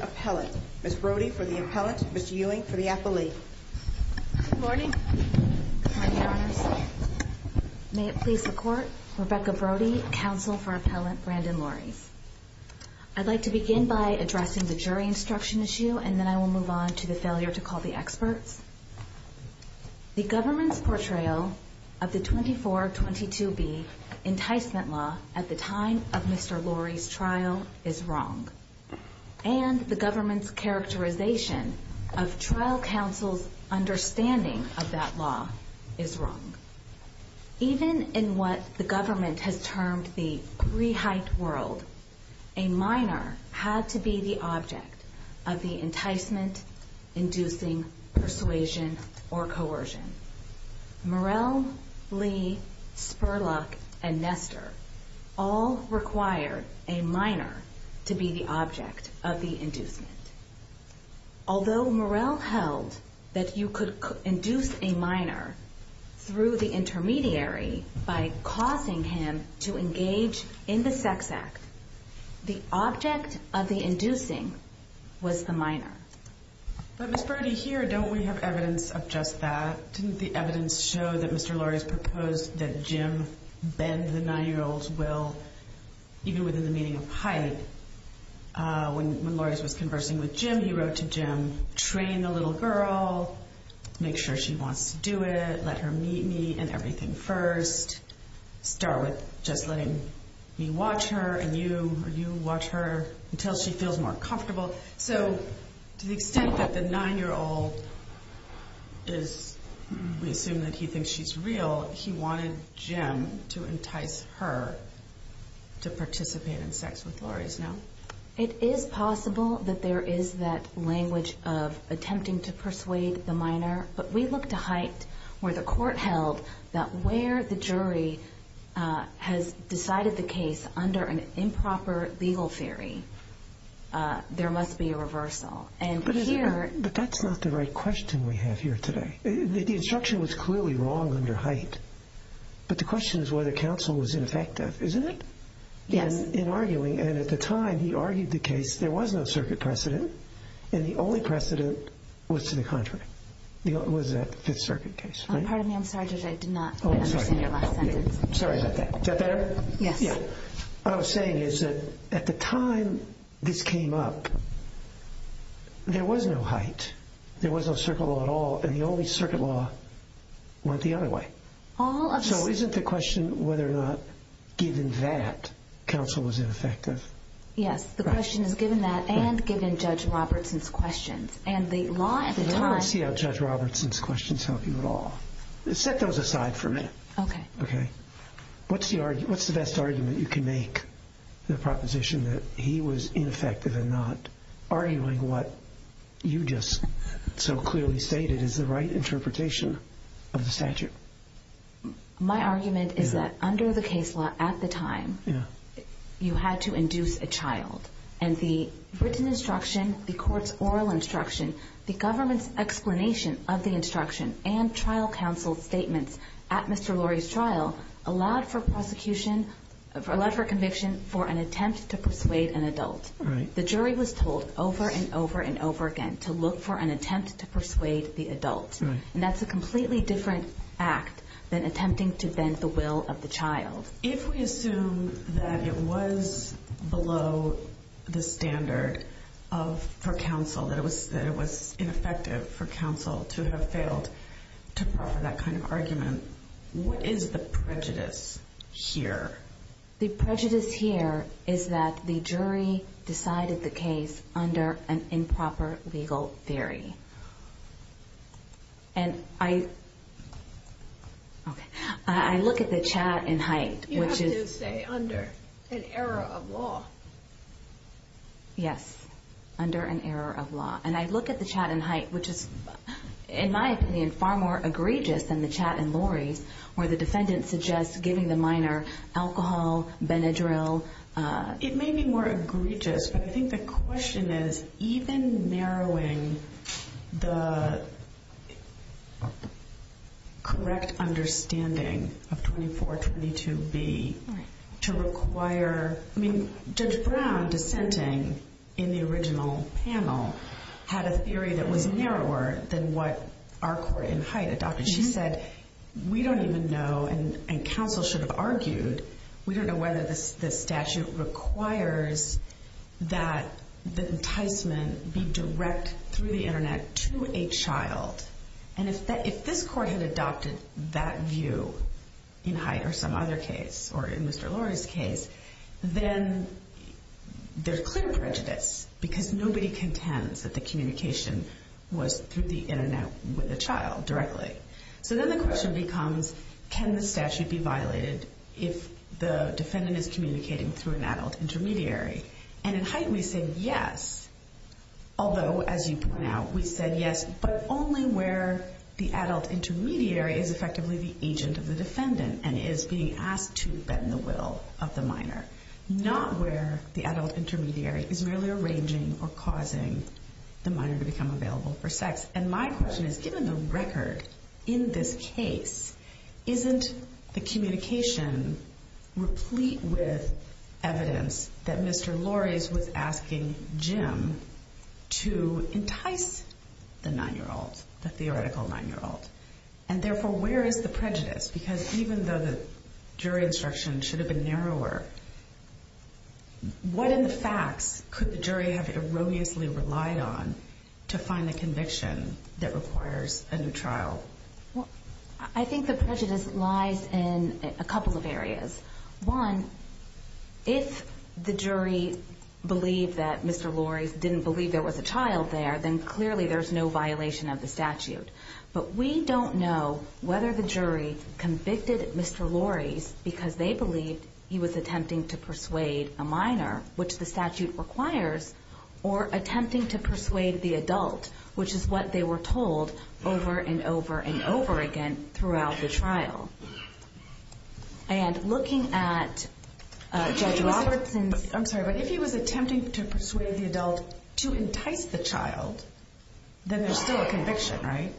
Appellant. Ms. Brody for the Appellant, Mr. Ewing for the Appellee. Good morning. Good morning, Your Honors. May it please the Court, Rebecca Brody, Counsel for Appellant Brandon Laureys. I'd like to begin by addressing the jury instruction issue and then I will move on to the failure to call the experts. The government's portrayal of the 2422B enticement law at the time of Mr. Laureys' trial is wrong. And the government's characterization of trial counsel's understanding of that law is wrong. Even in what the government has termed the pre-hyped world, a minor had to be the object of the enticement inducing persuasion or coercion. Murrell, Lee, Spurlock, and Nestor all required a minor to be the object of the inducement. Although Murrell held that you could induce a minor through the intermediary by causing him to engage in the sex act, the object of the inducing was the minor. But Ms. Brody, here don't we have evidence of just that? Didn't the evidence show that Mr. Laureys proposed that Jim bend the 9-year-old's will even within the meaning of hype? When Laureys was conversing with Jim, he wrote to Jim, train the little girl, make sure she wants to do it, let her meet me and everything first, start with just letting me watch her and you watch her until she feels more comfortable. So to the extent that the 9-year-old is, we assume that he thinks she's real, he wanted Jim to entice her to participate in sex with Laureys, no? It is possible that there is that language of attempting to persuade the minor, but we look to Hype where the court held that where the jury has decided the case under an improper legal theory, there must be a reversal. But that's not the right question we have here today. The instruction was clearly wrong under Hype, but the question is whether counsel was ineffective, isn't it? Yes. In arguing, and at the time he argued the case, there was no circuit precedent, and the only precedent was to the contrary. Was that the Fifth Circuit case? I'm sorry, Judge, I did not understand your last sentence. Is that better? Yes. What I'm saying is that at the time this came up, there was no Hype, there was no circuit law at all, and the only circuit law went the other way. So isn't the question whether or not given that, counsel was ineffective? Yes, the question is given that and given Judge Robertson's questions. I don't see how Judge Robertson's questions help you at all. Set those aside for a minute. Okay. What's the best argument you can make for the proposition that he was ineffective and not arguing what you just so clearly stated is the right interpretation of the statute? My argument is that under the case law at the time, you had to induce a child, and the written instruction, the court's oral instruction, the government's explanation of the instruction, and trial counsel's statements at Mr. Lurie's trial allowed for prosecution, allowed for conviction for an attempt to persuade an adult. Right. The jury was told over and over and over again to look for an attempt to persuade the adult. Right. And that's a completely different act than attempting to bend the will of the child. If we assume that it was below the standard for counsel, that it was ineffective for counsel to have failed to proffer that kind of argument, what is the prejudice here? The prejudice here is that the jury decided the case under an improper legal theory. And I... Okay. I look at the chat in Haidt, which is... You have to say, under an error of law. Yes. Under an error of law. And I look at the chat in Haidt, which is, in my opinion, far more egregious than the chat in Lurie's, where the defendant suggests giving the minor alcohol, Benadryl... It may be more egregious, but I think the question is, even narrowing the correct understanding of 2422B to require... I mean, Judge Brown, dissenting in the original panel, had a theory that was narrower than what our court in Haidt adopted. She said, we don't even know, and counsel should have argued, we don't know whether the statute requires that the enticement be direct through the Internet to a child. And if this court had adopted that view in Haidt or some other case, or in Mr. Lurie's case, then there's clear prejudice, because nobody contends that the communication was through the Internet with a child directly. So then the question becomes, can the statute be violated if the defendant is communicating through an adult intermediary? And in Haidt, we say yes. Although, as you point out, we said yes, but only where the adult intermediary is effectively the agent of the defendant and is being asked to bend the will of the minor. Not where the adult intermediary is merely arranging or causing the minor to become available for sex. And my question is, given the record in this case, isn't the communication replete with evidence that Mr. Lurie's was asking Jim to entice the 9-year-old, the theoretical 9-year-old? And therefore, where is the prejudice? Because even though the jury instruction should have been narrower, what in the facts could the jury have erroneously relied on to find the conviction that requires a new trial? I think the prejudice lies in a couple of areas. One, if the jury believed that Mr. Lurie's didn't believe there was a child there, then clearly there's no violation of the statute. But we don't know whether the jury convicted Mr. Lurie's because they believed he was attempting to persuade the adult, which is what they were told over and over and over again throughout the trial. And looking at Judge Robertson's... I'm sorry, but if he was attempting to persuade the adult to entice the child, then there's still a conviction, right?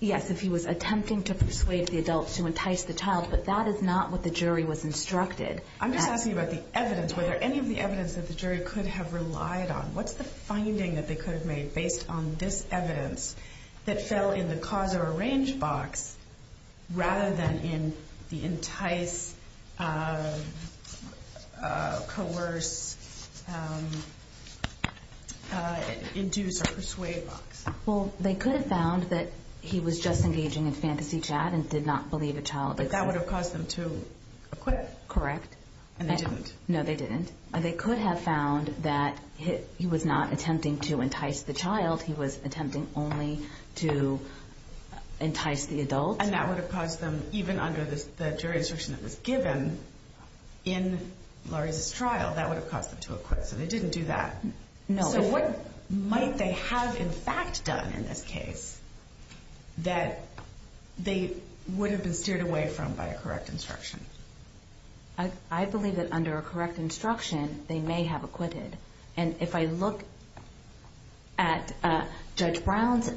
Yes, if he was attempting to persuade the adult to entice the child, but that is not what the jury was instructed. I'm just asking about the evidence. Were there any of the evidence that the jury could have relied on? What's the finding that they could have made based on this evidence that fell in the cause or arrange box rather than in the entice, coerce, induce or persuade box? Well, they could have found that he was just engaging in fantasy chat and did not believe a child existed. But that would have caused them to acquit? Correct. And they didn't? No, they didn't. They could have found that he was not attempting to entice the child. He was attempting only to entice the adult. And that would have caused them, even under the jury instruction that was given in Lurie's trial, that would have caused them to acquit. So they didn't do that. No. So what might they have, in fact, done in this case that they would have been steered away from by a correct instruction? I believe that under a correct instruction, they may have acquitted. And if I look at Judge Brown's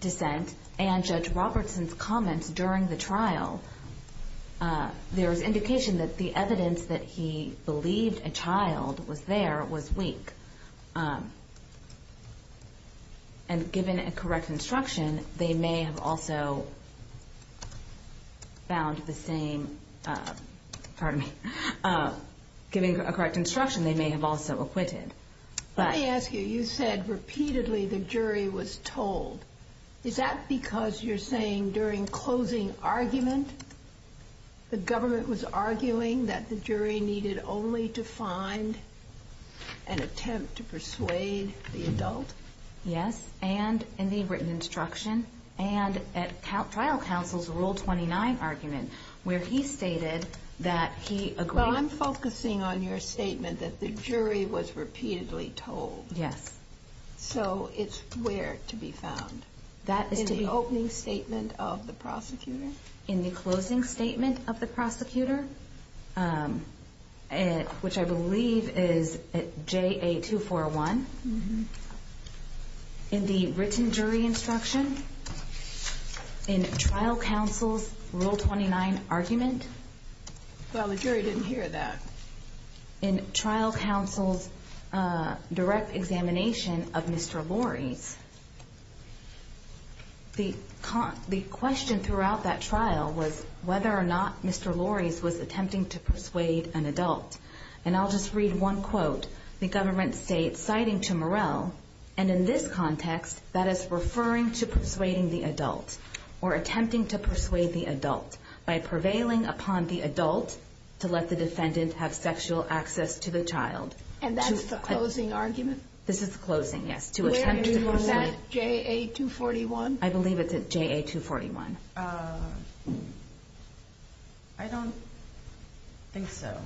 dissent and Judge Robertson's comments during the trial, there is indication that the evidence that he believed a child was there was weak. And given a correct instruction, they may have also found the same, pardon me, given a correct instruction, they may have also acquitted. Let me ask you, you said repeatedly the jury was told. Is that because you're saying during closing argument, the government was arguing that the jury needed only to find an attempt to persuade the adult? Yes. And in the written instruction. And at trial counsel's Rule 29 argument, where he stated that he agreed. Well, I'm focusing on your statement that the jury was repeatedly told. Yes. So it's where to be found? In the opening statement of the prosecutor? In the closing statement of the prosecutor, which I believe is JA241. In the written jury instruction? In trial counsel's Rule 29 argument? Well, the jury didn't hear that. In trial counsel's direct examination of Mr. Lorre's? The question throughout that trial was whether or not Mr. Lorre's was attempting to persuade an adult. And I'll just read one quote. The government states, citing to Morell, and in this context, that is referring to persuading the adult or attempting to persuade the adult by prevailing upon the adult to let the defendant have sexual access to the child. And that's the closing argument? This is the closing, yes. Where is that? JA241? I believe it's at JA241. I don't think so.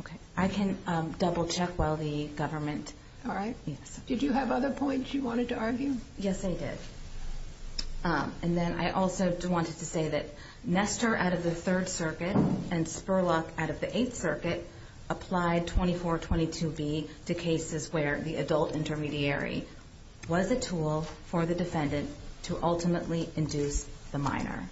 Okay. I can double-check while the government. All right. Did you have other points you wanted to argue? Yes, I did. And then I also wanted to say that Nestor out of the Third Circuit and Spurlock out of the Eighth Circuit applied 2422B to cases where the adult intermediary was a tool for the defendant to ultimately induce the minor.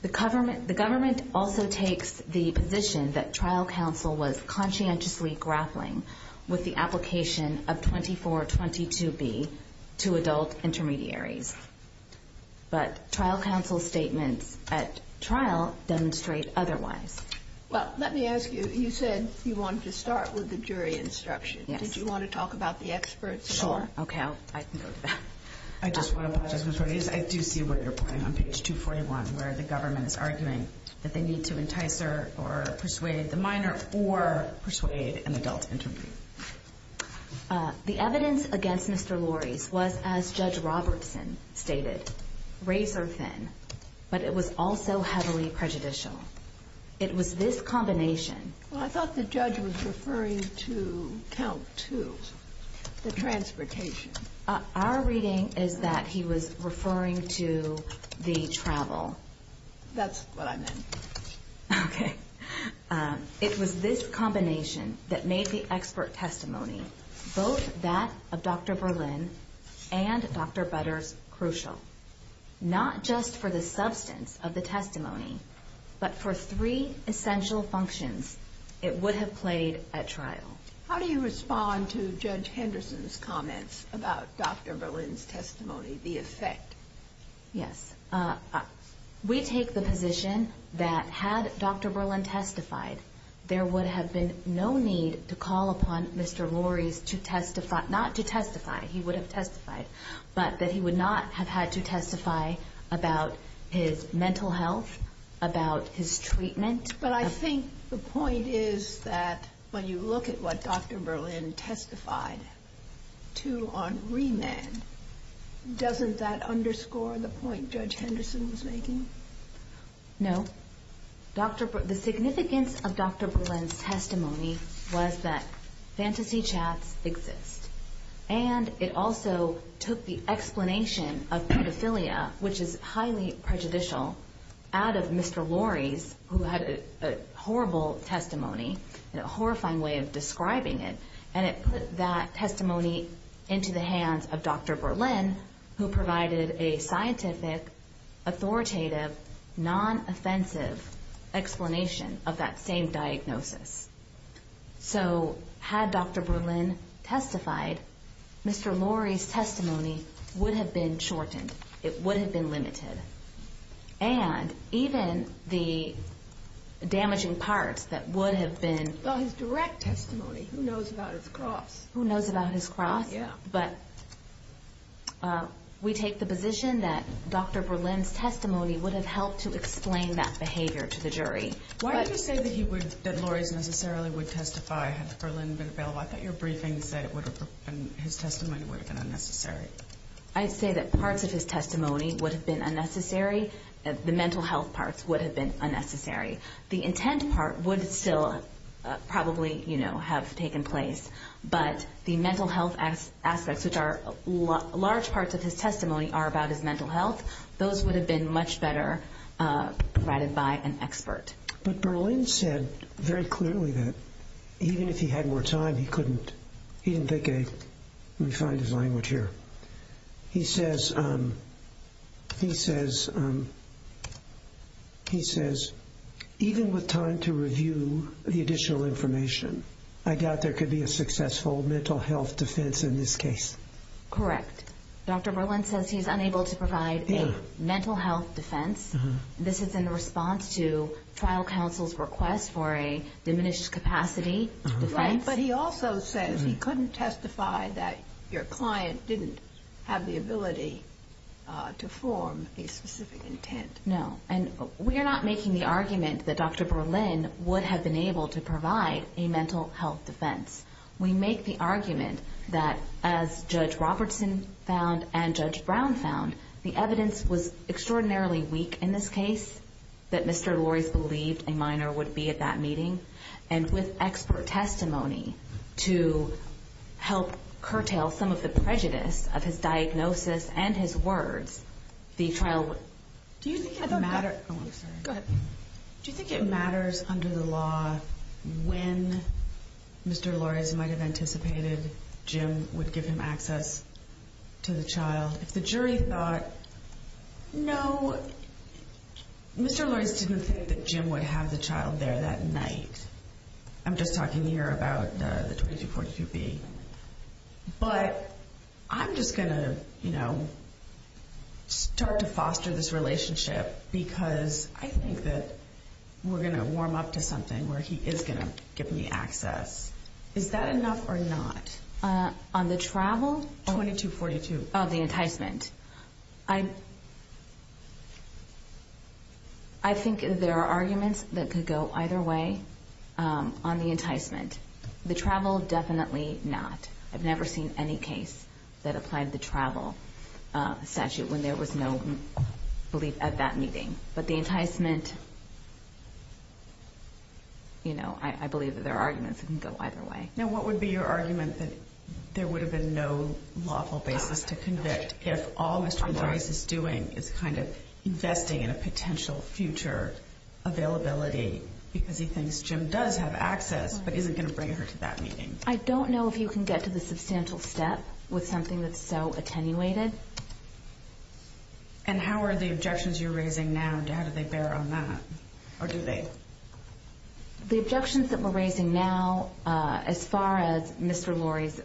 The government also takes the position that trial counsel was conscientiously grappling with the application of 2422B to adult intermediaries. But trial counsel's statements at trial demonstrate otherwise. Well, let me ask you. You said you wanted to start with the jury instruction. Yes. Did you want to talk about the experts? Sure. Okay. I can go to that. I just want to apologize. I do see where you're going on page 241, where the government is arguing that they need to entice or persuade the minor or persuade an adult intermediary. The evidence against Mr. Lorries was, as Judge Robertson stated, razor thin, but it was also heavily prejudicial. It was this combination. Well, I thought the judge was referring to count two, the transportation. Our reading is that he was referring to the travel. That's what I meant. Okay. It was this combination that made the expert testimony, both that of Dr. Berlin and Dr. Butters, crucial, not just for the substance of the testimony, but for three essential functions it would have played at trial. How do you respond to Judge Henderson's comments about Dr. Berlin's testimony, the effect? Yes. We take the position that had Dr. Berlin testified, there would have been no need to call upon Mr. Lorries to testify, not to testify. He would have testified, but that he would not have had to testify about his mental health, about his treatment. But I think the point is that when you look at what Dr. Berlin testified to on remand, doesn't that underscore the point Judge Henderson was making? No. The significance of Dr. Berlin's testimony was that fantasy chats exist, and it also took the explanation of pedophilia, which is highly prejudicial, out of Mr. Lorries, who had a horrible testimony, a horrifying way of describing it, and it put that testimony into the hands of Dr. Berlin, who provided a scientific, authoritative, non-offensive explanation of that same diagnosis. So had Dr. Berlin testified, Mr. Lorries' testimony would have been shortened. It would have been limited. And even the damaging parts that would have been Well, his direct testimony, who knows about his cross? Who knows about his cross? Yeah. But we take the position that Dr. Berlin's testimony would have helped to explain that behavior to the jury. Why did you say that Lorries necessarily would testify had Berlin been available? I thought your briefing said his testimony would have been unnecessary. I'd say that parts of his testimony would have been unnecessary. The mental health parts would have been unnecessary. The intent part would still probably have taken place, but the mental health aspects, which are large parts of his testimony, are about his mental health. Those would have been much better provided by an expert. But Berlin said very clearly that even if he had more time, he couldn't He didn't think a Let me find his language here. He says, even with time to review the additional information, I doubt there could be a successful mental health defense in this case. Correct. Dr. Berlin says he's unable to provide a mental health defense. This is in response to trial counsel's request for a diminished capacity defense. But he also says he couldn't testify that your client didn't have the ability to form a specific intent. No. And we're not making the argument that Dr. Berlin would have been able to provide a mental health defense. We make the argument that, as Judge Robertson found and Judge Brown found, the evidence was extraordinarily weak in this case, that Mr. Lorries believed a minor would be at that meeting. And with expert testimony to help curtail some of the prejudice of his diagnosis and his words, the trial Do you think it matters under the law when Mr. Lorries might have anticipated Jim would give him access to the child? If the jury thought, no, Mr. Lorries didn't think that Jim would have the child there that night. I'm just talking here about the 2242B. But I'm just going to, you know, start to foster this relationship because I think that we're going to warm up to something where he is going to give me access. Is that enough or not? On the travel? 2242. Oh, the enticement. I think there are arguments that could go either way on the enticement. The travel, definitely not. I've never seen any case that applied the travel statute when there was no belief at that meeting. But the enticement, you know, I believe that there are arguments that can go either way. Now, what would be your argument that there would have been no lawful basis to convict if all Mr. Lorries is doing is kind of investing in a potential future availability because he thinks Jim does have access but isn't going to bring her to that meeting? I don't know if you can get to the substantial step with something that's so attenuated. And how are the objections you're raising now, how do they bear on that? Or do they? The objections that we're raising now, as far as Mr. Lorries,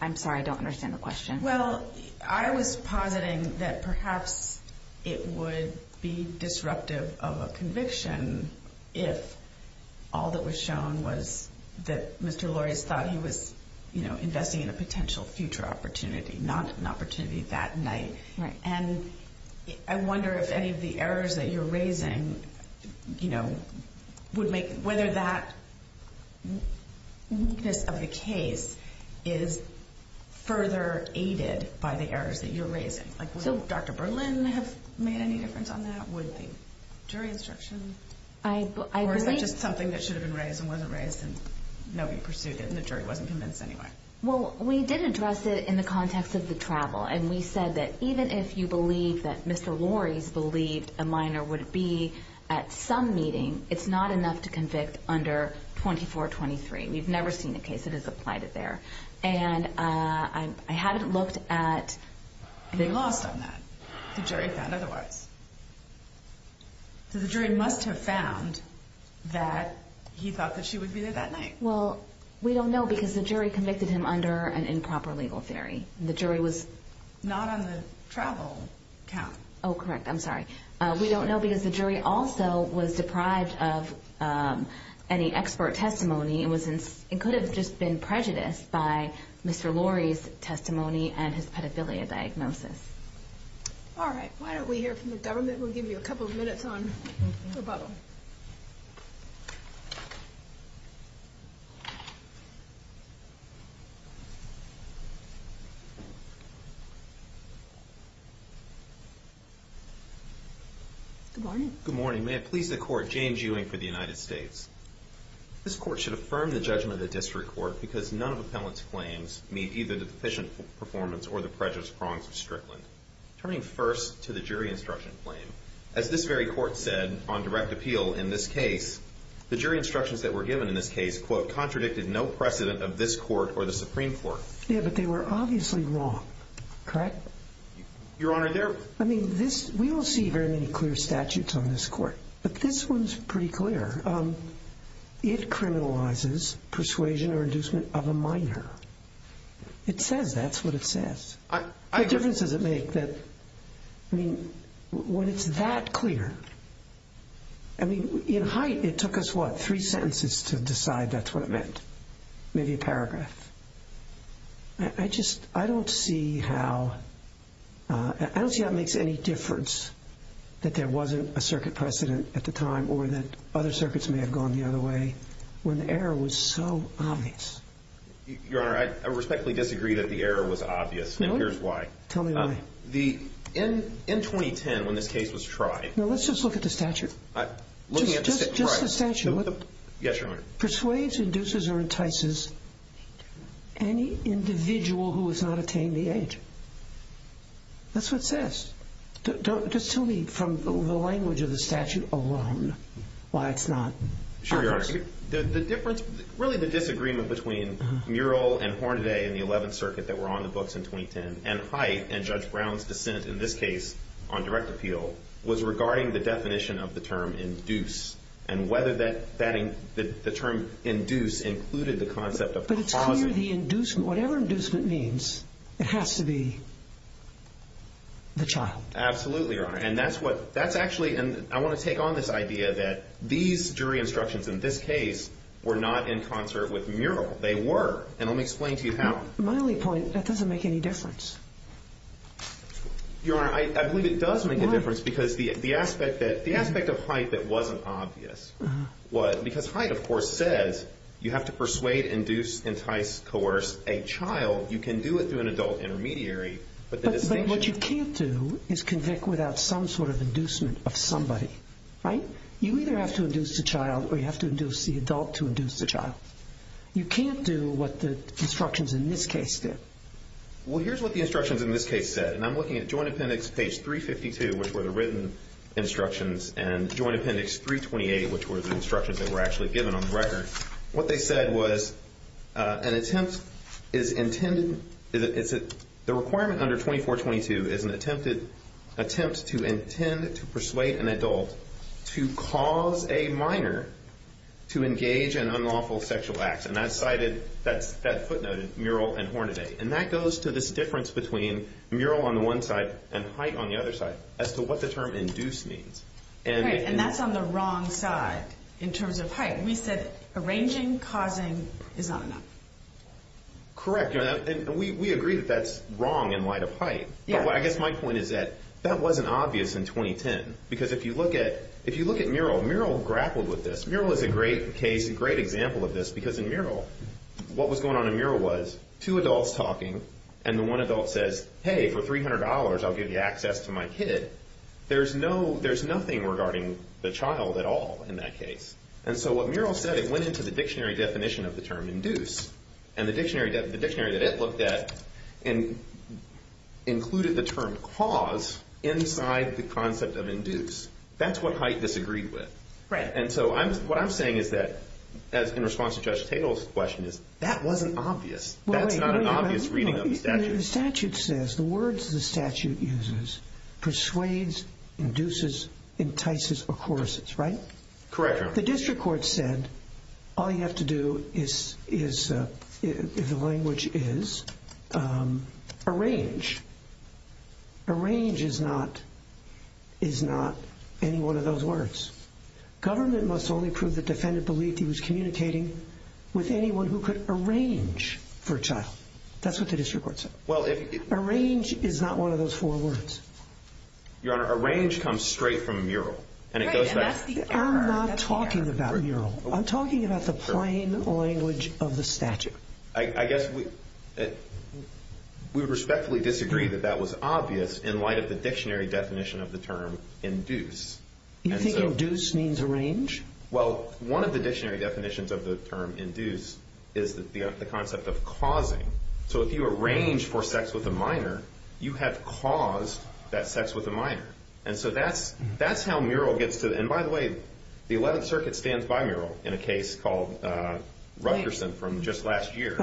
I'm sorry, I don't understand the question. Well, I was positing that perhaps it would be disruptive of a conviction if all that was shown was that Mr. Lorries thought he was investing in a potential future opportunity, not an opportunity that night. And I wonder if any of the errors that you're raising, you know, would make, whether that weakness of the case is further aided by the errors that you're raising. Would Dr. Berlin have made any difference on that? Would the jury instruction? Or is it just something that should have been raised and wasn't raised and nobody pursued it and the jury wasn't convinced anyway? Well, we did address it in the context of the travel. And we said that even if you believe that Mr. Lorries believed a minor would be at some meeting, it's not enough to convict under 2423. We've never seen a case that has applied it there. And I haven't looked at the... You lost on that. The jury found otherwise. So the jury must have found that he thought that she would be there that night. Well, we don't know because the jury convicted him under an improper legal theory. The jury was not on the travel count. Oh, correct. I'm sorry. We don't know because the jury also was deprived of any expert testimony. It was it could have just been prejudiced by Mr. Lorries testimony and his pedophilia diagnosis. All right. Why don't we hear from the government? We'll give you a couple of minutes on rebuttal. Good morning. Good morning. May it please the court. James Ewing for the United States. This court should affirm the judgment of the district court because none of appellant's claims meet either deficient performance or the prejudice prongs of Strickland. Turning first to the jury instruction claim, as this very court said on direct appeal in this case, the jury instructions that were given in this case, quote, contradicted no precedent of this court or the Supreme Court. Yeah, but they were obviously wrong. Correct? Your Honor, there... I mean, this... We don't see very many clear statutes on this court, but this one's pretty clear. It criminalizes persuasion or inducement of a minor. It says that's what it says. What difference does it make that, I mean, when it's that clear, I mean, in height, it took us, what, three sentences to decide that's what it meant? Maybe a paragraph. I just, I don't see how, I don't see how it makes any difference that there wasn't a circuit precedent at the time or that other circuits may have gone the other way when the error was so obvious. Your Honor, I respectfully disagree that the error was obvious, and here's why. Tell me why. In 2010, when this case was tried... Let's just look at the statute. Just the statute. Yes, Your Honor. Persuades, induces, or entices any individual who has not attained the age. That's what it says. Just tell me from the language of the statute alone why it's not obvious. Sure, Your Honor. The difference, really the disagreement between Murill and Hornaday in the 11th Circuit that were on the books in 2010 and height and Judge Brown's dissent in this case on direct appeal was regarding the definition of the term induce and whether that, the term induce included the concept of... But it's clear the inducement, whatever inducement means, it has to be the child. Absolutely, Your Honor. And I want to take on this idea that these jury instructions in this case were not in concert with Murill. They were, and let me explain to you how. My only point, that doesn't make any difference. Your Honor, I believe it does make a difference because the aspect of height that wasn't obvious. Because height, of course, says you have to persuade, induce, entice, coerce a child. You can do it through an adult intermediary, but the distinction... of somebody, right? You either have to induce the child or you have to induce the adult to induce the child. You can't do what the instructions in this case did. Well, here's what the instructions in this case said. And I'm looking at Joint Appendix page 352, which were the written instructions, and Joint Appendix 328, which were the instructions that were actually given on the record. What they said was an attempt is intended... the requirement under 2422 is an attempt to intend to persuade an adult to cause a minor to engage in unlawful sexual acts. And that's cited, that footnote in Murill and Hornaday. And that goes to this difference between Murill on the one side and height on the other side as to what the term induce means. Right, and that's on the wrong side in terms of height. Right, and we said arranging causing is not enough. Correct, and we agree that that's wrong in light of height. But I guess my point is that that wasn't obvious in 2010. Because if you look at Murill, Murill grappled with this. Murill is a great case, a great example of this, because in Murill, what was going on in Murill was two adults talking, and the one adult says, hey, for $300 I'll give you access to my kid. There's nothing regarding the child at all in that case. And so what Murill said, it went into the dictionary definition of the term induce. And the dictionary that it looked at included the term cause inside the concept of induce. That's what height disagreed with. And so what I'm saying is that, in response to Judge Tatel's question, is that wasn't obvious. That's not an obvious reading of the statute. The statute says, the words the statute uses, persuades, induces, entices, accourses, right? Correct, Your Honor. The district court said, all you have to do is, if the language is, arrange. Arrange is not any one of those words. Government must only prove the defendant believed he was communicating with anyone who could arrange for a child. That's what the district court said. Arrange is not one of those four words. Your Honor, arrange comes straight from Murill. Right, and that's the error. I'm not talking about Murill. I'm talking about the plain language of the statute. I guess we would respectfully disagree that that was obvious in light of the dictionary definition of the term induce. You think induce means arrange? Well, one of the dictionary definitions of the term induce is the concept of causing. So if you arrange for sex with a minor, you have caused that sex with a minor. And so that's how Murill gets to the end. By the way, the 11th Circuit stands by Murill in a case called Rutgerson from just last year.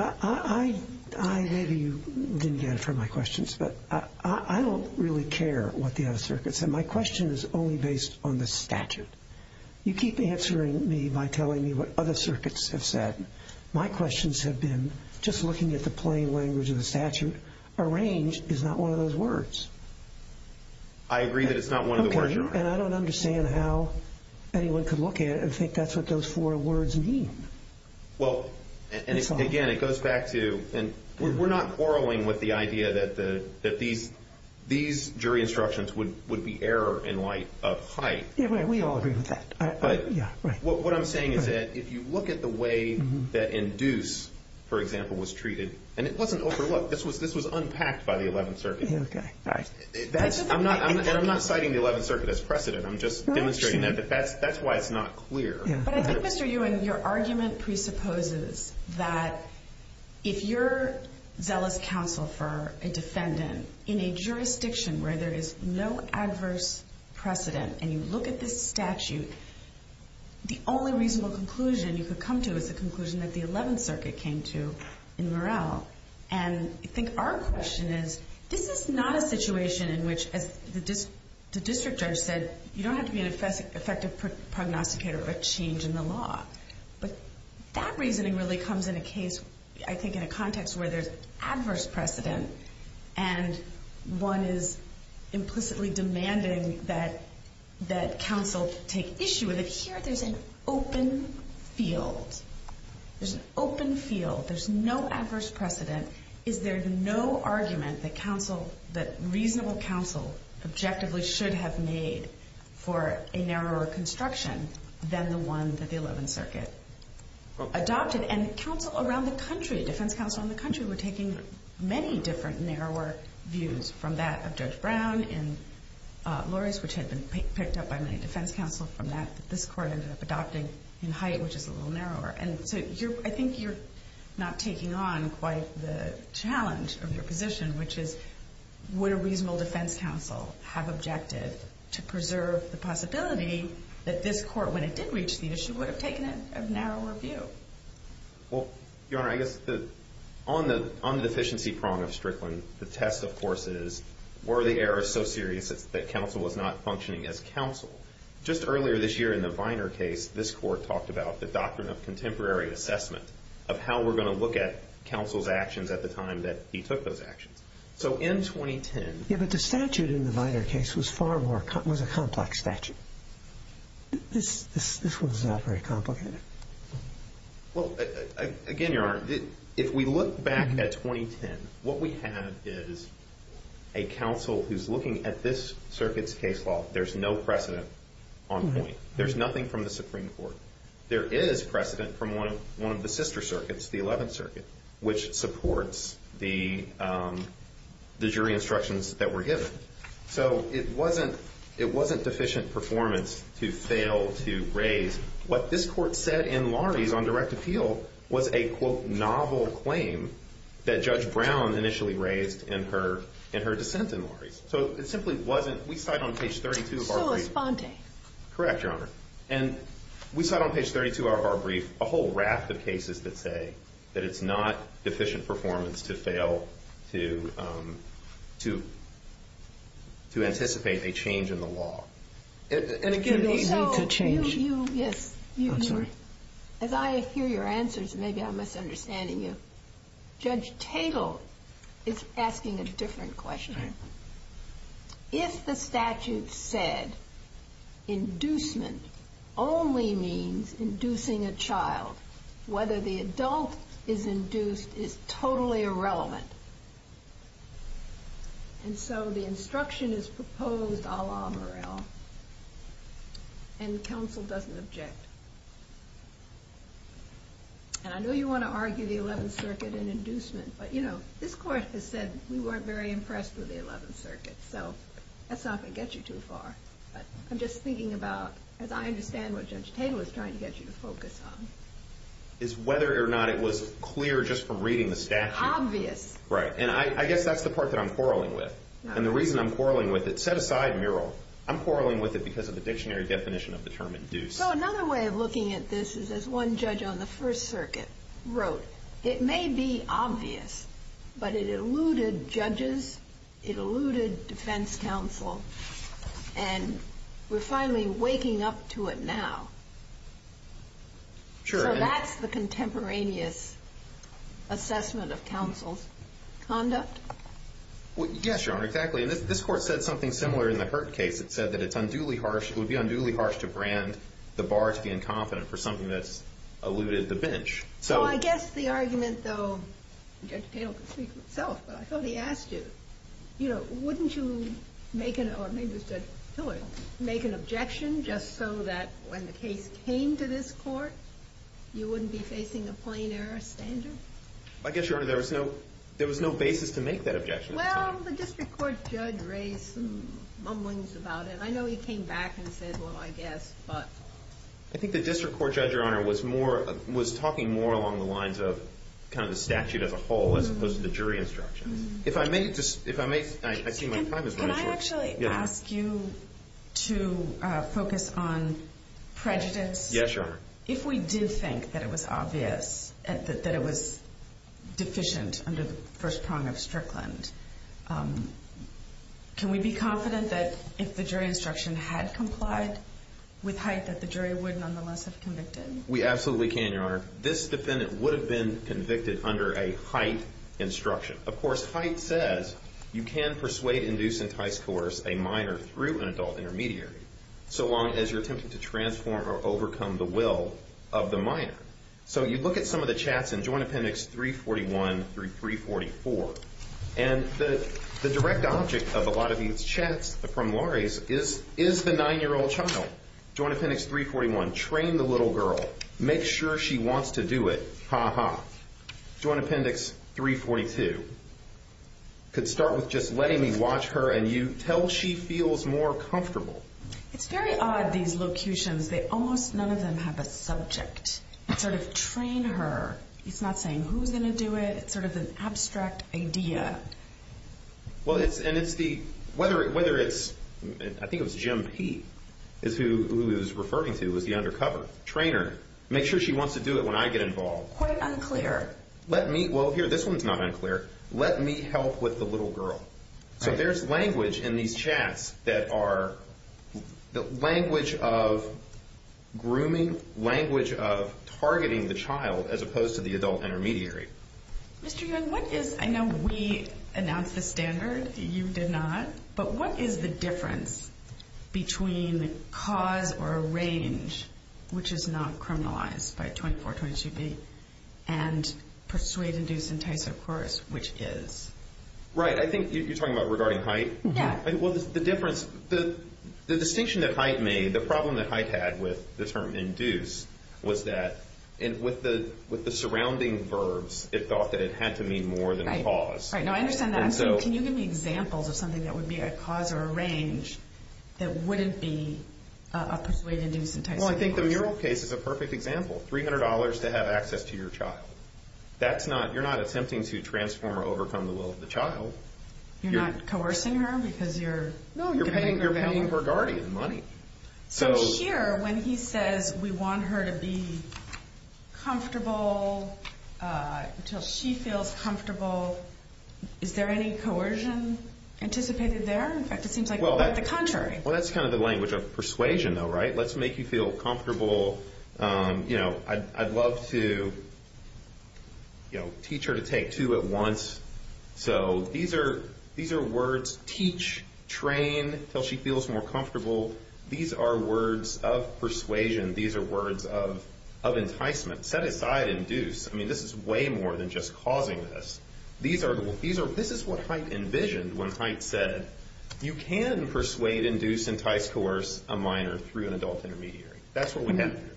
Maybe you didn't get it from my questions, but I don't really care what the other circuits said. My question is only based on the statute. You keep answering me by telling me what other circuits have said. My questions have been just looking at the plain language of the statute. Arrange is not one of those words. I agree that it's not one of the words. And I don't understand how anyone could look at it and think that's what those four words mean. Well, again, it goes back to, and we're not quarreling with the idea that these jury instructions would be error in light of height. We all agree with that. What I'm saying is that if you look at the way that induce, for example, was treated, and it wasn't overlooked, this was unpacked by the 11th Circuit. I'm not citing the 11th Circuit as precedent. I'm just demonstrating that. That's why it's not clear. But I think, Mr. Ewing, your argument presupposes that if you're zealous counsel for a defendant in a jurisdiction where there is no adverse precedent, and you look at this statute, the only reasonable conclusion you could come to is the conclusion that the 11th Circuit came to in Murill. And I think our question is, this is not a situation in which, as the district judge said, you don't have to be an effective prognosticator of a change in the law. But that reasoning really comes in a case, I think, in a context where there's adverse precedent, and one is implicitly demanding that counsel take issue with it. Here, there's an open field. There's an open field. There's no adverse precedent. Is there no argument that reasonable counsel objectively should have made for a narrower construction than the one that the 11th Circuit adopted? And counsel around the country, defense counsel around the country, were taking many different narrower views, from that of Judge Brown in Loris, which had been picked up by many defense counsel, from that that this Court ended up adopting in Haight, which is a little narrower. And so I think you're not taking on quite the challenge of your position, which is, would a reasonable defense counsel have objected to preserve the possibility that this Court, when it did reach the issue, would have taken a narrower view? Well, Your Honor, I guess on the deficiency prong of Strickland, the test, of course, is, were the errors so serious that counsel was not functioning as counsel? Just earlier this year in the Viner case, this Court talked about the doctrine of contemporary assessment, of how we're going to look at counsel's actions at the time that he took those actions. So in 2010... Yeah, but the statute in the Viner case was far more, was a complex statute. This one's not very complicated. Well, again, Your Honor, if we look back at 2010, what we have is a counsel who's looking at this circuit's case law. There's no precedent on point. There's nothing from the Supreme Court. There is precedent from one of the sister circuits, the Eleventh Circuit, which supports the jury instructions that were given. So it wasn't deficient performance to fail to raise. What this Court said in Lahrie's on direct appeal was a, quote, novel claim that Judge Brown initially raised in her dissent in Lahrie's. So it simply wasn't. We cite on page 32 of our brief. So was Fonte. Correct, Your Honor. And we cite on page 32 of our brief a whole raft of cases that say that it's not deficient performance to fail to anticipate a change in the law. And again, it's a change. Yes. I'm sorry. As I hear your answers, maybe I'm misunderstanding you. Judge Tatel is asking a different question. If the statute said inducement only means inducing a child, whether the adult is induced is totally irrelevant. And so the instruction is proposed a la Morel. And counsel doesn't object. And I know you want to argue the Eleventh Circuit and inducement. But, you know, this Court has said we weren't very impressed with the Eleventh Circuit. So that's not going to get you too far. But I'm just thinking about, as I understand what Judge Tatel is trying to get you to focus on. Is whether or not it was clear just from reading the statute. Obvious. Right. And I guess that's the part that I'm quarreling with. And the reason I'm quarreling with it, set aside Morel, I'm quarreling with it because of the dictionary definition of the term induce. So another way of looking at this is as one judge on the First Circuit wrote, it may be obvious, but it eluded judges. It eluded defense counsel. And we're finally waking up to it now. Sure. So that's the contemporaneous assessment of counsel's conduct? Well, yes, Your Honor, exactly. And this Court said something similar in the Hurd case. It said that it's unduly harsh. It would be unduly harsh to brand the bar to the inconfident for something that's eluded the bench. So I guess the argument, though, Judge Tatel can speak for himself, but I thought he asked you, you know, wouldn't you make an objection just so that when the case came to this Court, you wouldn't be facing a plain error standard? I guess, Your Honor, there was no basis to make that objection. Well, the District Court judge raised some mumblings about it. I know he came back and said, well, I guess, but. I think the District Court judge, Your Honor, was talking more along the lines of kind of the statute as a whole as opposed to the jury instructions. If I may, I see my time is running short. Can I actually ask you to focus on prejudice? Yes, Your Honor. If we did think that it was obvious that it was deficient under the first prong of Strickland, can we be confident that if the jury instruction had complied with height that the jury would nonetheless have convicted? We absolutely can, Your Honor. This defendant would have been convicted under a height instruction. Of course, height says you can persuade, induce, entice, coerce a minor through an adult intermediary so long as you're attempting to transform or overcome the will of the minor. So you look at some of the chats in Joint Appendix 341 through 344, and the direct object of a lot of these chats from lorries is the 9-year-old child. Joint Appendix 341, train the little girl. Make sure she wants to do it. Ha ha. Joint Appendix 342, could start with just letting me watch her and you tell she feels more comfortable. It's very odd, these locutions. Almost none of them have a subject. It's sort of train her. It's not saying who's going to do it. It's sort of an abstract idea. Well, and it's the, whether it's, I think it was Jim P. who he was referring to was the undercover. Train her. Make sure she wants to do it when I get involved. Quite unclear. Let me, well, here, this one's not unclear. Let me help with the little girl. So there's language in these chats that are the language of grooming, language of targeting the child as opposed to the adult intermediary. Mr. Young, what is, I know we announced the standard, you did not, but what is the difference between cause or range, which is not criminalized by 2422B, and persuade, induce, entice, or coerce, which is? Right. I think you're talking about regarding height. Yeah. Well, the difference, the distinction that height made, the problem that height had with the term induce was that with the surrounding verbs, it thought that it had to mean more than cause. Right. Right. So I understand that. So can you give me examples of something that would be a cause or a range that wouldn't be a persuade, induce, entice, or coerce? Well, I think the mural case is a perfect example, $300 to have access to your child. That's not, you're not attempting to transform or overcome the will of the child. You're not coercing her because you're getting her money? No, you're paying for guardian money. So here, when he says we want her to be comfortable until she feels comfortable, is there any coercion anticipated there? In fact, it seems like quite the contrary. Well, that's kind of the language of persuasion, though, right? Let's make you feel comfortable. I'd love to teach her to take two at once. So these are words, teach, train until she feels more comfortable. These are words of persuasion. These are words of enticement. Set aside, induce. I mean, this is way more than just causing this. This is what Haidt envisioned when Haidt said, you can persuade, induce, entice, coerce a minor through an adult intermediary. That's what we have here.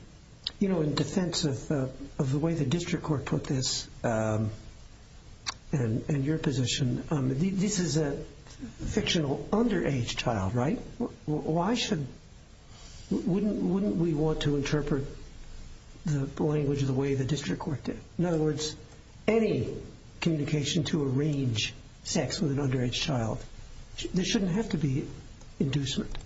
You know, in defense of the way the district court put this and your position, this is a fictional underage child, right? Why shouldn't, wouldn't we want to interpret the language the way the district court did? In other words, any communication to arrange sex with an underage child, there shouldn't have to be inducement,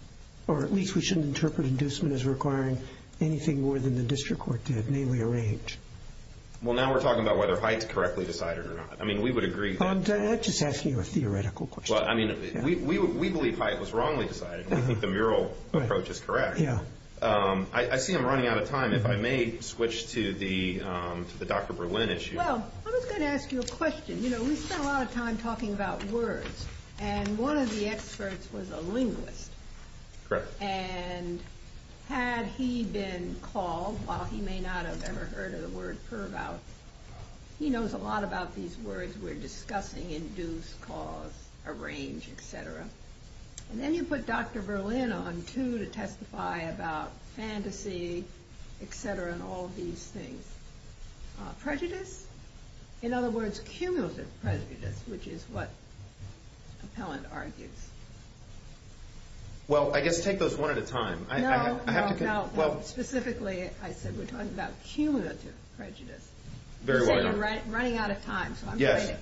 or at least we shouldn't interpret inducement as requiring anything more than the district court did, namely arrange. Well, now we're talking about whether Haidt correctly decided or not. I mean, we would agree. I'm just asking you a theoretical question. Well, I mean, we believe Haidt was wrongly decided. We think the mural approach is correct. I see I'm running out of time. If I may switch to the Dr. Berlin issue. Well, I was going to ask you a question. You know, we spend a lot of time talking about words, and one of the experts was a linguist. Correct. And had he been called, while he may not have ever heard of the word pervout, he knows a lot about these words we're discussing, induce, cause, arrange, etc. And then you put Dr. Berlin on too to testify about fantasy, etc., and all these things. Prejudice? In other words, cumulative prejudice, which is what Appellant argues. Well, I guess take those one at a time. No, no, no. Specifically, I said we're talking about cumulative prejudice. Very well done. You said you're running out of time, so I'm going to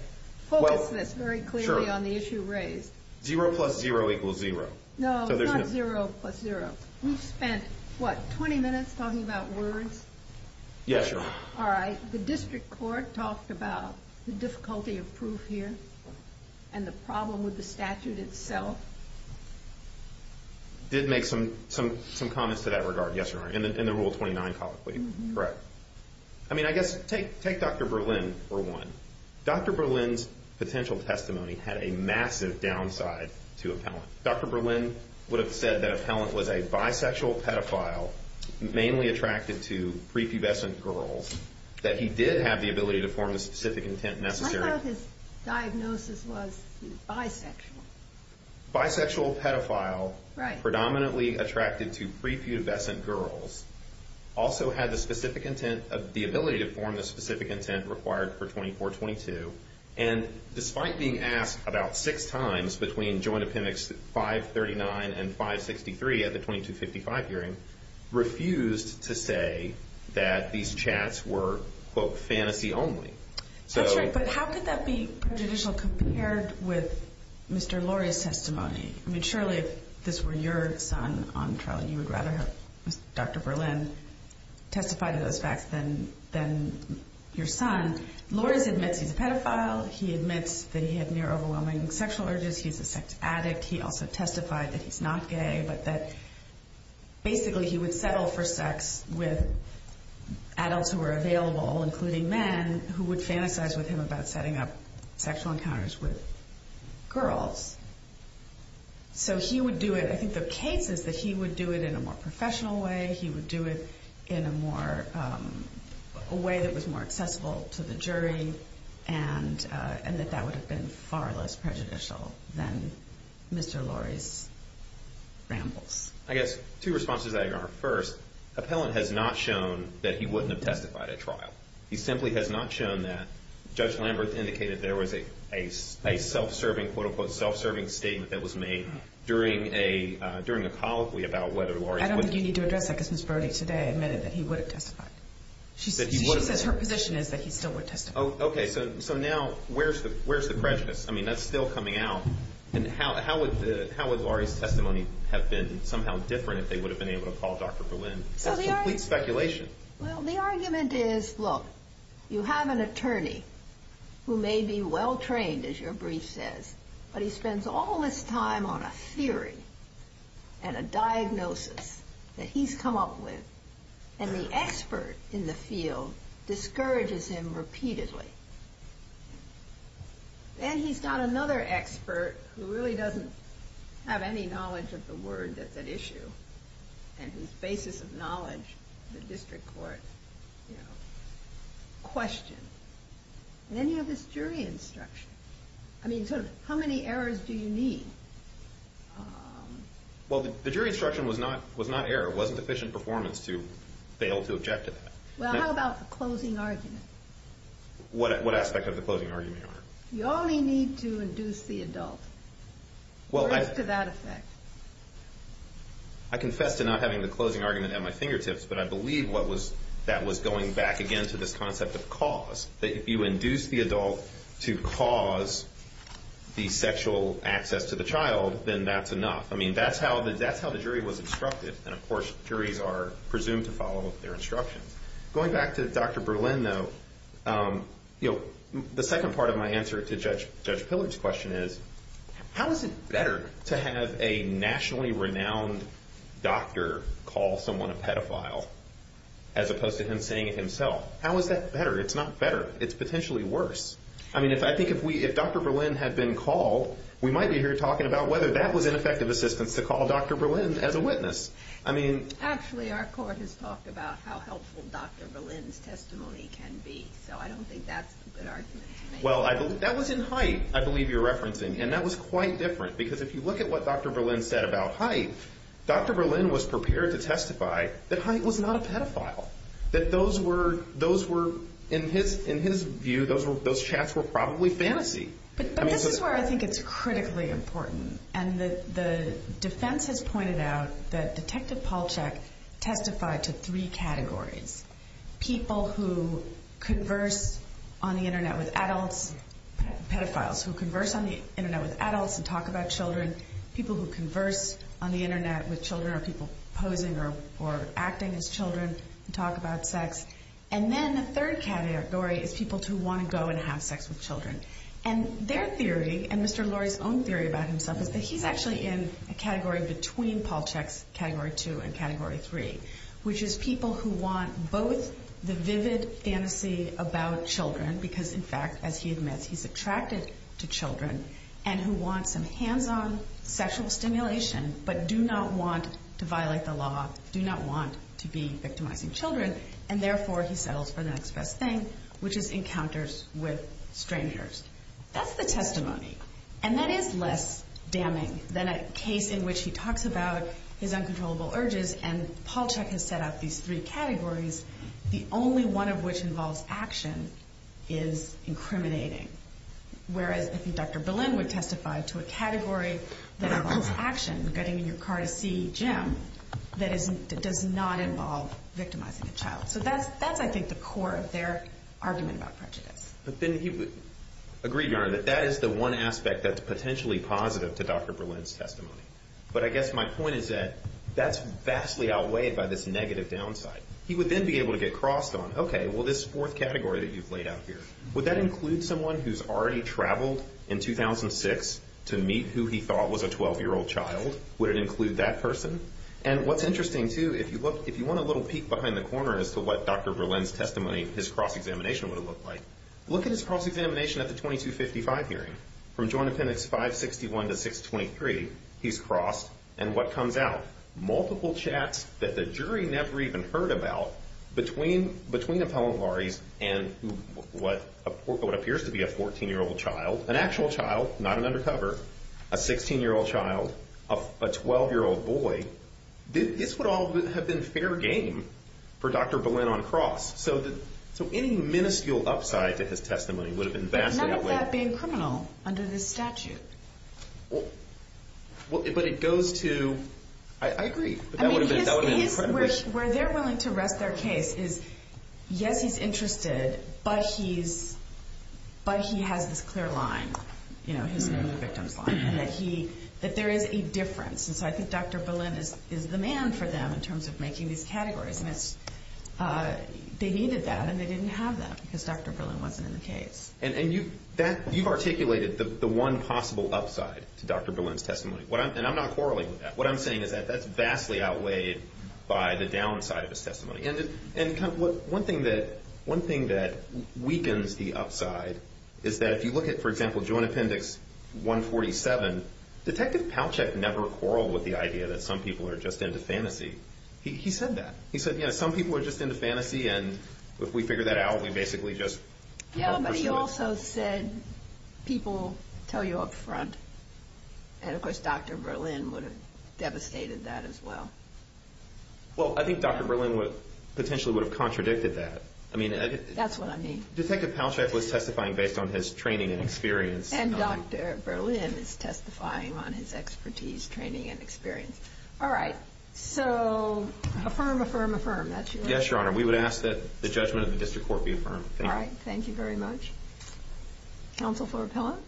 focus this very clearly on the issue raised. Zero plus zero equals zero. No, not zero plus zero. We've spent, what, 20 minutes talking about words? Yes, Your Honor. All right, the district court talked about the difficulty of proof here and the problem with the statute itself. Did make some comments to that regard, yes, Your Honor, in the Rule 29 colloquy. Correct. I mean, I guess take Dr. Berlin for one. Dr. Berlin's potential testimony had a massive downside to Appellant. Dr. Berlin would have said that Appellant was a bisexual pedophile mainly attracted to prepubescent girls, that he did have the ability to form the specific intent necessary. I thought his diagnosis was bisexual. Bisexual pedophile predominantly attracted to prepubescent girls also had the specific intent of the ability to form the specific intent required for 2422. And despite being asked about six times between Joint Appendix 539 and 563 at the 2255 hearing, refused to say that these chats were, quote, fantasy only. That's right, but how could that be prejudicial compared with Mr. Lurie's testimony? I mean, surely if this were your son on trial, you would rather have Dr. Berlin testify to those facts than your son. Lurie admits he's a pedophile. He admits that he had near-overwhelming sexual urges. He's a sex addict. He also testified that he's not gay, but that basically he would settle for sex with adults who were available, including men, who would fantasize with him about setting up sexual encounters with girls. So he would do it. I think the case is that he would do it in a more professional way. He would do it in a way that was more accessible to the jury and that that would have been far less prejudicial than Mr. Lurie's rambles. I guess two responses to that are, first, appellant has not shown that he wouldn't have testified at trial. He simply has not shown that. Judge Lambert indicated there was a self-serving, quote, unquote, self-serving statement that was made during a colloquy about whether Lurie was a pedophile. I don't think you need to address that because Ms. Brody today admitted that he would have testified. She says her position is that he still would testify. Okay. So now where's the prejudice? I mean, that's still coming out. And how would Lurie's testimony have been somehow different if they would have been able to call Dr. Berlin? That's complete speculation. Well, the argument is, look, you have an attorney who may be well-trained, as your brief says, but he spends all this time on a theory and a diagnosis that he's come up with, and the expert in the field discourages him repeatedly. Then he's got another expert who really doesn't have any knowledge of the word that's at issue and whose basis of knowledge the district court, you know, questioned. And then you have this jury instruction. I mean, so how many errors do you need? Well, the jury instruction was not error. It wasn't efficient performance to fail to object to that. Well, how about the closing argument? What aspect of the closing argument, Your Honor? You only need to induce the adult. Well, I... Or at least to that effect. I confess to not having the closing argument at my fingertips, but I believe that was going back again to this concept of cause, that if you induce the adult to cause the sexual access to the child, then that's enough. I mean, that's how the jury was instructed. And, of course, juries are presumed to follow their instructions. Going back to Dr. Berlin, though, you know, the second part of my answer to Judge Pillard's question is, how is it better to have a nationally renowned doctor call someone a pedophile as opposed to him saying it himself? How is that better? It's not better. It's potentially worse. I mean, I think if Dr. Berlin had been called, we might be here talking about whether that was an effective assistance to call Dr. Berlin as a witness. I mean... Actually, our court has talked about how helpful Dr. Berlin's testimony can be, so I don't think that's a good argument to make. Well, that was in Haidt, I believe you're referencing, and that was quite different because if you look at what Dr. Berlin said about Haidt, Dr. Berlin was prepared to testify that Haidt was not a pedophile, that those were, in his view, those chats were probably fantasy. But this is where I think it's critically important, and the defense has pointed out that Detective Polchak testified to three categories, people who converse on the Internet with adults, pedophiles, who converse on the Internet with adults and talk about children, people who converse on the Internet with children or people posing or acting as children and talk about sex, and then the third category is people who want to go and have sex with children. And their theory, and Mr. Lurie's own theory about himself, is that he's actually in a category between Polchak's Category 2 and Category 3, which is people who want both the vivid fantasy about children, because, in fact, as he admits, he's attracted to children, and who want some hands-on sexual stimulation but do not want to violate the law, do not want to be victimizing children, and therefore he settles for the next best thing, which is encounters with strangers. That's the testimony, and that is less damning than a case in which he talks about his uncontrollable urges, and Polchak has set out these three categories, the only one of which involves action is incriminating, whereas I think Dr. Berlin would testify to a category that involves action, getting in your car to see Jim, that does not involve victimizing a child. So that's, I think, the core of their argument about prejudice. But then he would agree, Your Honor, that that is the one aspect that's potentially positive to Dr. Berlin's testimony. But I guess my point is that that's vastly outweighed by this negative downside. He would then be able to get crossed on, okay, well, this fourth category that you've laid out here, would that include someone who's already traveled in 2006 to meet who he thought was a 12-year-old child? Would it include that person? And what's interesting, too, if you want a little peek behind the corner as to what Dr. Berlin's testimony, his cross-examination would have looked like, look at his cross-examination at the 2255 hearing. From Joint Appendix 561 to 623, he's crossed, and what comes out? Multiple chats that the jury never even heard about between appellant lawyers and what appears to be a 14-year-old child, an actual child, not an undercover, a 16-year-old child, a 12-year-old boy. This would all have been fair game for Dr. Berlin on cross. So any minuscule upside to his testimony would have been vastly outweighed. But none of that being criminal under this statute. Well, but it goes to, I agree. I mean, where they're willing to rest their case is, yes, he's interested, but he has this clear line, you know, his victim's line, and that there is a difference. And so I think Dr. Berlin is the man for them in terms of making these categories. And they needed that, and they didn't have that because Dr. Berlin wasn't in the case. And you've articulated the one possible upside to Dr. Berlin's testimony. And I'm not quarreling with that. What I'm saying is that that's vastly outweighed by the downside of his testimony. And one thing that weakens the upside is that if you look at, for example, Joint Appendix 147, Detective Palchak never quarreled with the idea that some people are just into fantasy. He said that. He said, you know, some people are just into fantasy, and if we figure that out, we basically just help pursue it. Yeah, but he also said people tell you up front. And, of course, Dr. Berlin would have devastated that as well. Well, I think Dr. Berlin potentially would have contradicted that. That's what I mean. Detective Palchak was testifying based on his training and experience. And Dr. Berlin is testifying on his expertise, training, and experience. All right. So affirm, affirm, affirm. That's your order? Yes, Your Honor. We would ask that the judgment of the district court be affirmed. All right. Thank you very much. Counsel for Appellant?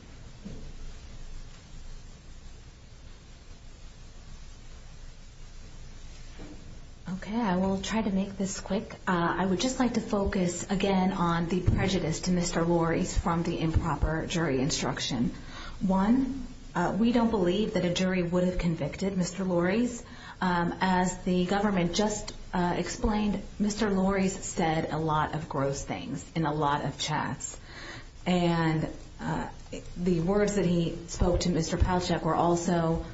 Okay. I will try to make this quick. I would just like to focus, again, on the prejudice to Mr. Lorre's from the improper jury instruction. One, we don't believe that a jury would have convicted Mr. Lorre's. As the government just explained, Mr. Lorre's said a lot of gross things in a lot of chats. And the words that he spoke to Mr. Palchak were also,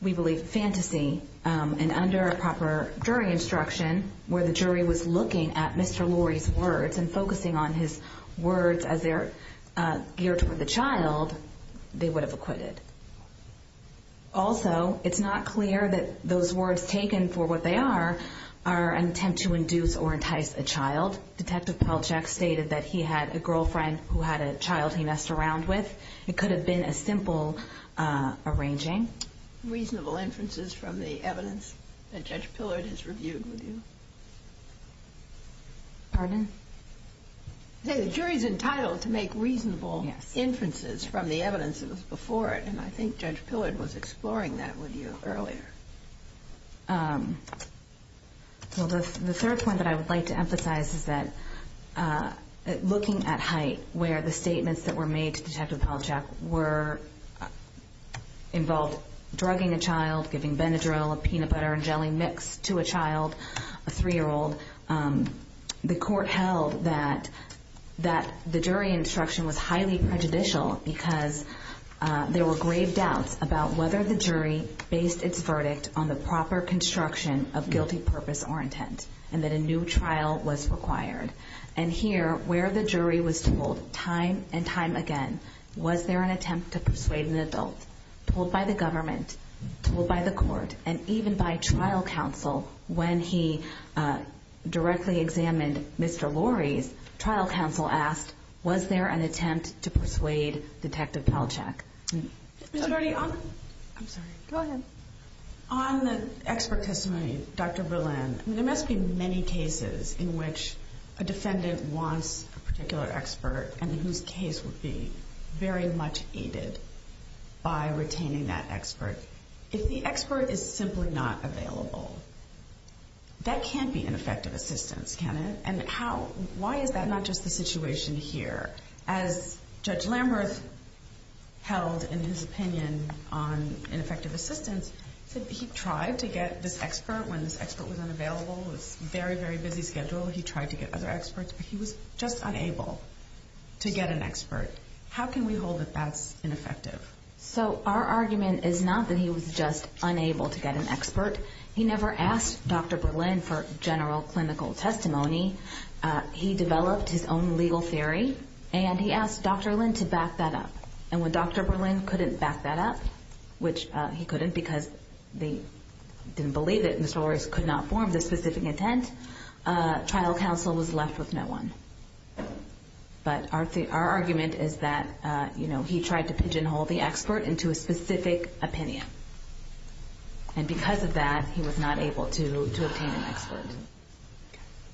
we believe, fantasy. And under a proper jury instruction, where the jury was looking at Mr. Lorre's words and focusing on his words as they're geared toward the child, they would have acquitted. Also, it's not clear that those words taken for what they are are an attempt to induce or entice a child. Detective Palchak stated that he had a girlfriend who had a child he messed around with. It could have been a simple arranging. Reasonable inferences from the evidence that Judge Pillard has reviewed with you? Pardon? The jury's entitled to make reasonable inferences from the evidence that was before it. And I think Judge Pillard was exploring that with you earlier. Well, the third point that I would like to emphasize is that looking at height, where the statements that were made to Detective Palchak involved drugging a child, giving Benadryl, a peanut butter and jelly mix to a child, a 3-year-old, the court held that the jury instruction was highly prejudicial because there were grave doubts about whether the jury based its verdict on the proper construction of guilty purpose or intent and that a new trial was required. And here, where the jury was told time and time again, was there an attempt to persuade an adult, told by the government, told by the court, and even by trial counsel when he directly examined Mr. Lorre's, trial counsel asked, was there an attempt to persuade Detective Palchak? Ms. Ernie, I'm sorry. Go ahead. On the expert testimony, Dr. Berlin, there must be many cases in which a defendant wants a particular expert if the expert is simply not available. That can't be ineffective assistance, can it? And why is that not just the situation here? As Judge Lamberth held in his opinion on ineffective assistance, he tried to get this expert when this expert was unavailable. It was a very, very busy schedule. He tried to get other experts, but he was just unable to get an expert. How can we hold that that's ineffective? So our argument is not that he was just unable to get an expert. He never asked Dr. Berlin for general clinical testimony. He developed his own legal theory, and he asked Dr. Berlin to back that up. And when Dr. Berlin couldn't back that up, which he couldn't because they didn't believe it and the stories could not form the specific intent, trial counsel was left with no one. But our argument is that he tried to pigeonhole the expert into a specific opinion. And because of that, he was not able to obtain an expert.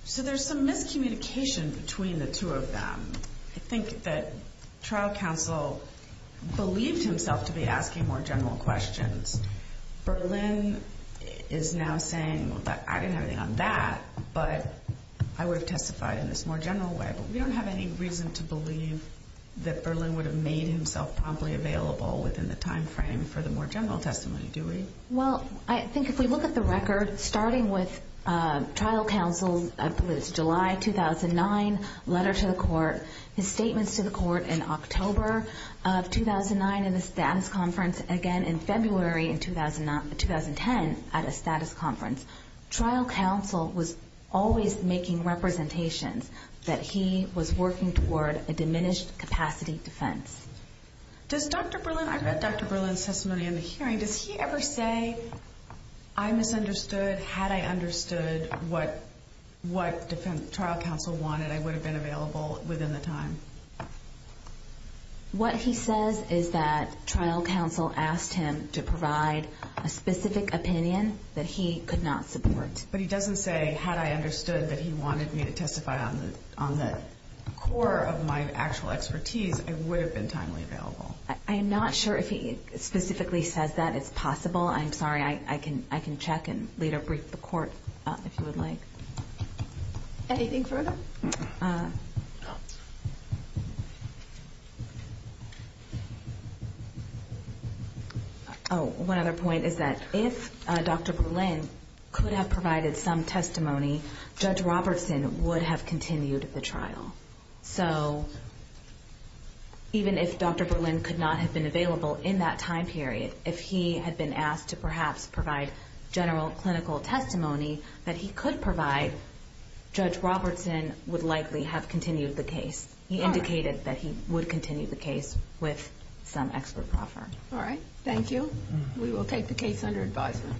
So there's some miscommunication between the two of them. I think that trial counsel believed himself to be asking more general questions. Berlin is now saying, well, I didn't have anything on that, but I would have testified in this more general way. But we don't have any reason to believe that Berlin would have made himself promptly available within the time frame for the more general testimony, do we? Well, I think if we look at the record, starting with trial counsel's July 2009 letter to the court, his statements to the court in October of 2009 in the status conference, and again in February in 2010 at a status conference, trial counsel was always making representations that he was working toward a diminished capacity defense. I read Dr. Berlin's testimony in the hearing. Does he ever say, I misunderstood? Had I understood what trial counsel wanted, I would have been available within the time? What he says is that trial counsel asked him to provide a specific opinion that he could not support. But he doesn't say, had I understood that he wanted me to testify on the core of my actual expertise, I would have been timely available. I am not sure if he specifically says that. It's possible. I'm sorry. I can check and later brief the court if you would like. Anything further? No. One other point is that if Dr. Berlin could have provided some testimony, Judge Robertson would have continued the trial. So even if Dr. Berlin could not have been available in that time period, if he had been asked to perhaps provide general clinical testimony, that he could provide, Judge Robertson would likely have continued the case. He indicated that he would continue the case with some expert proffer. All right. Thank you. We will take the case under advisement.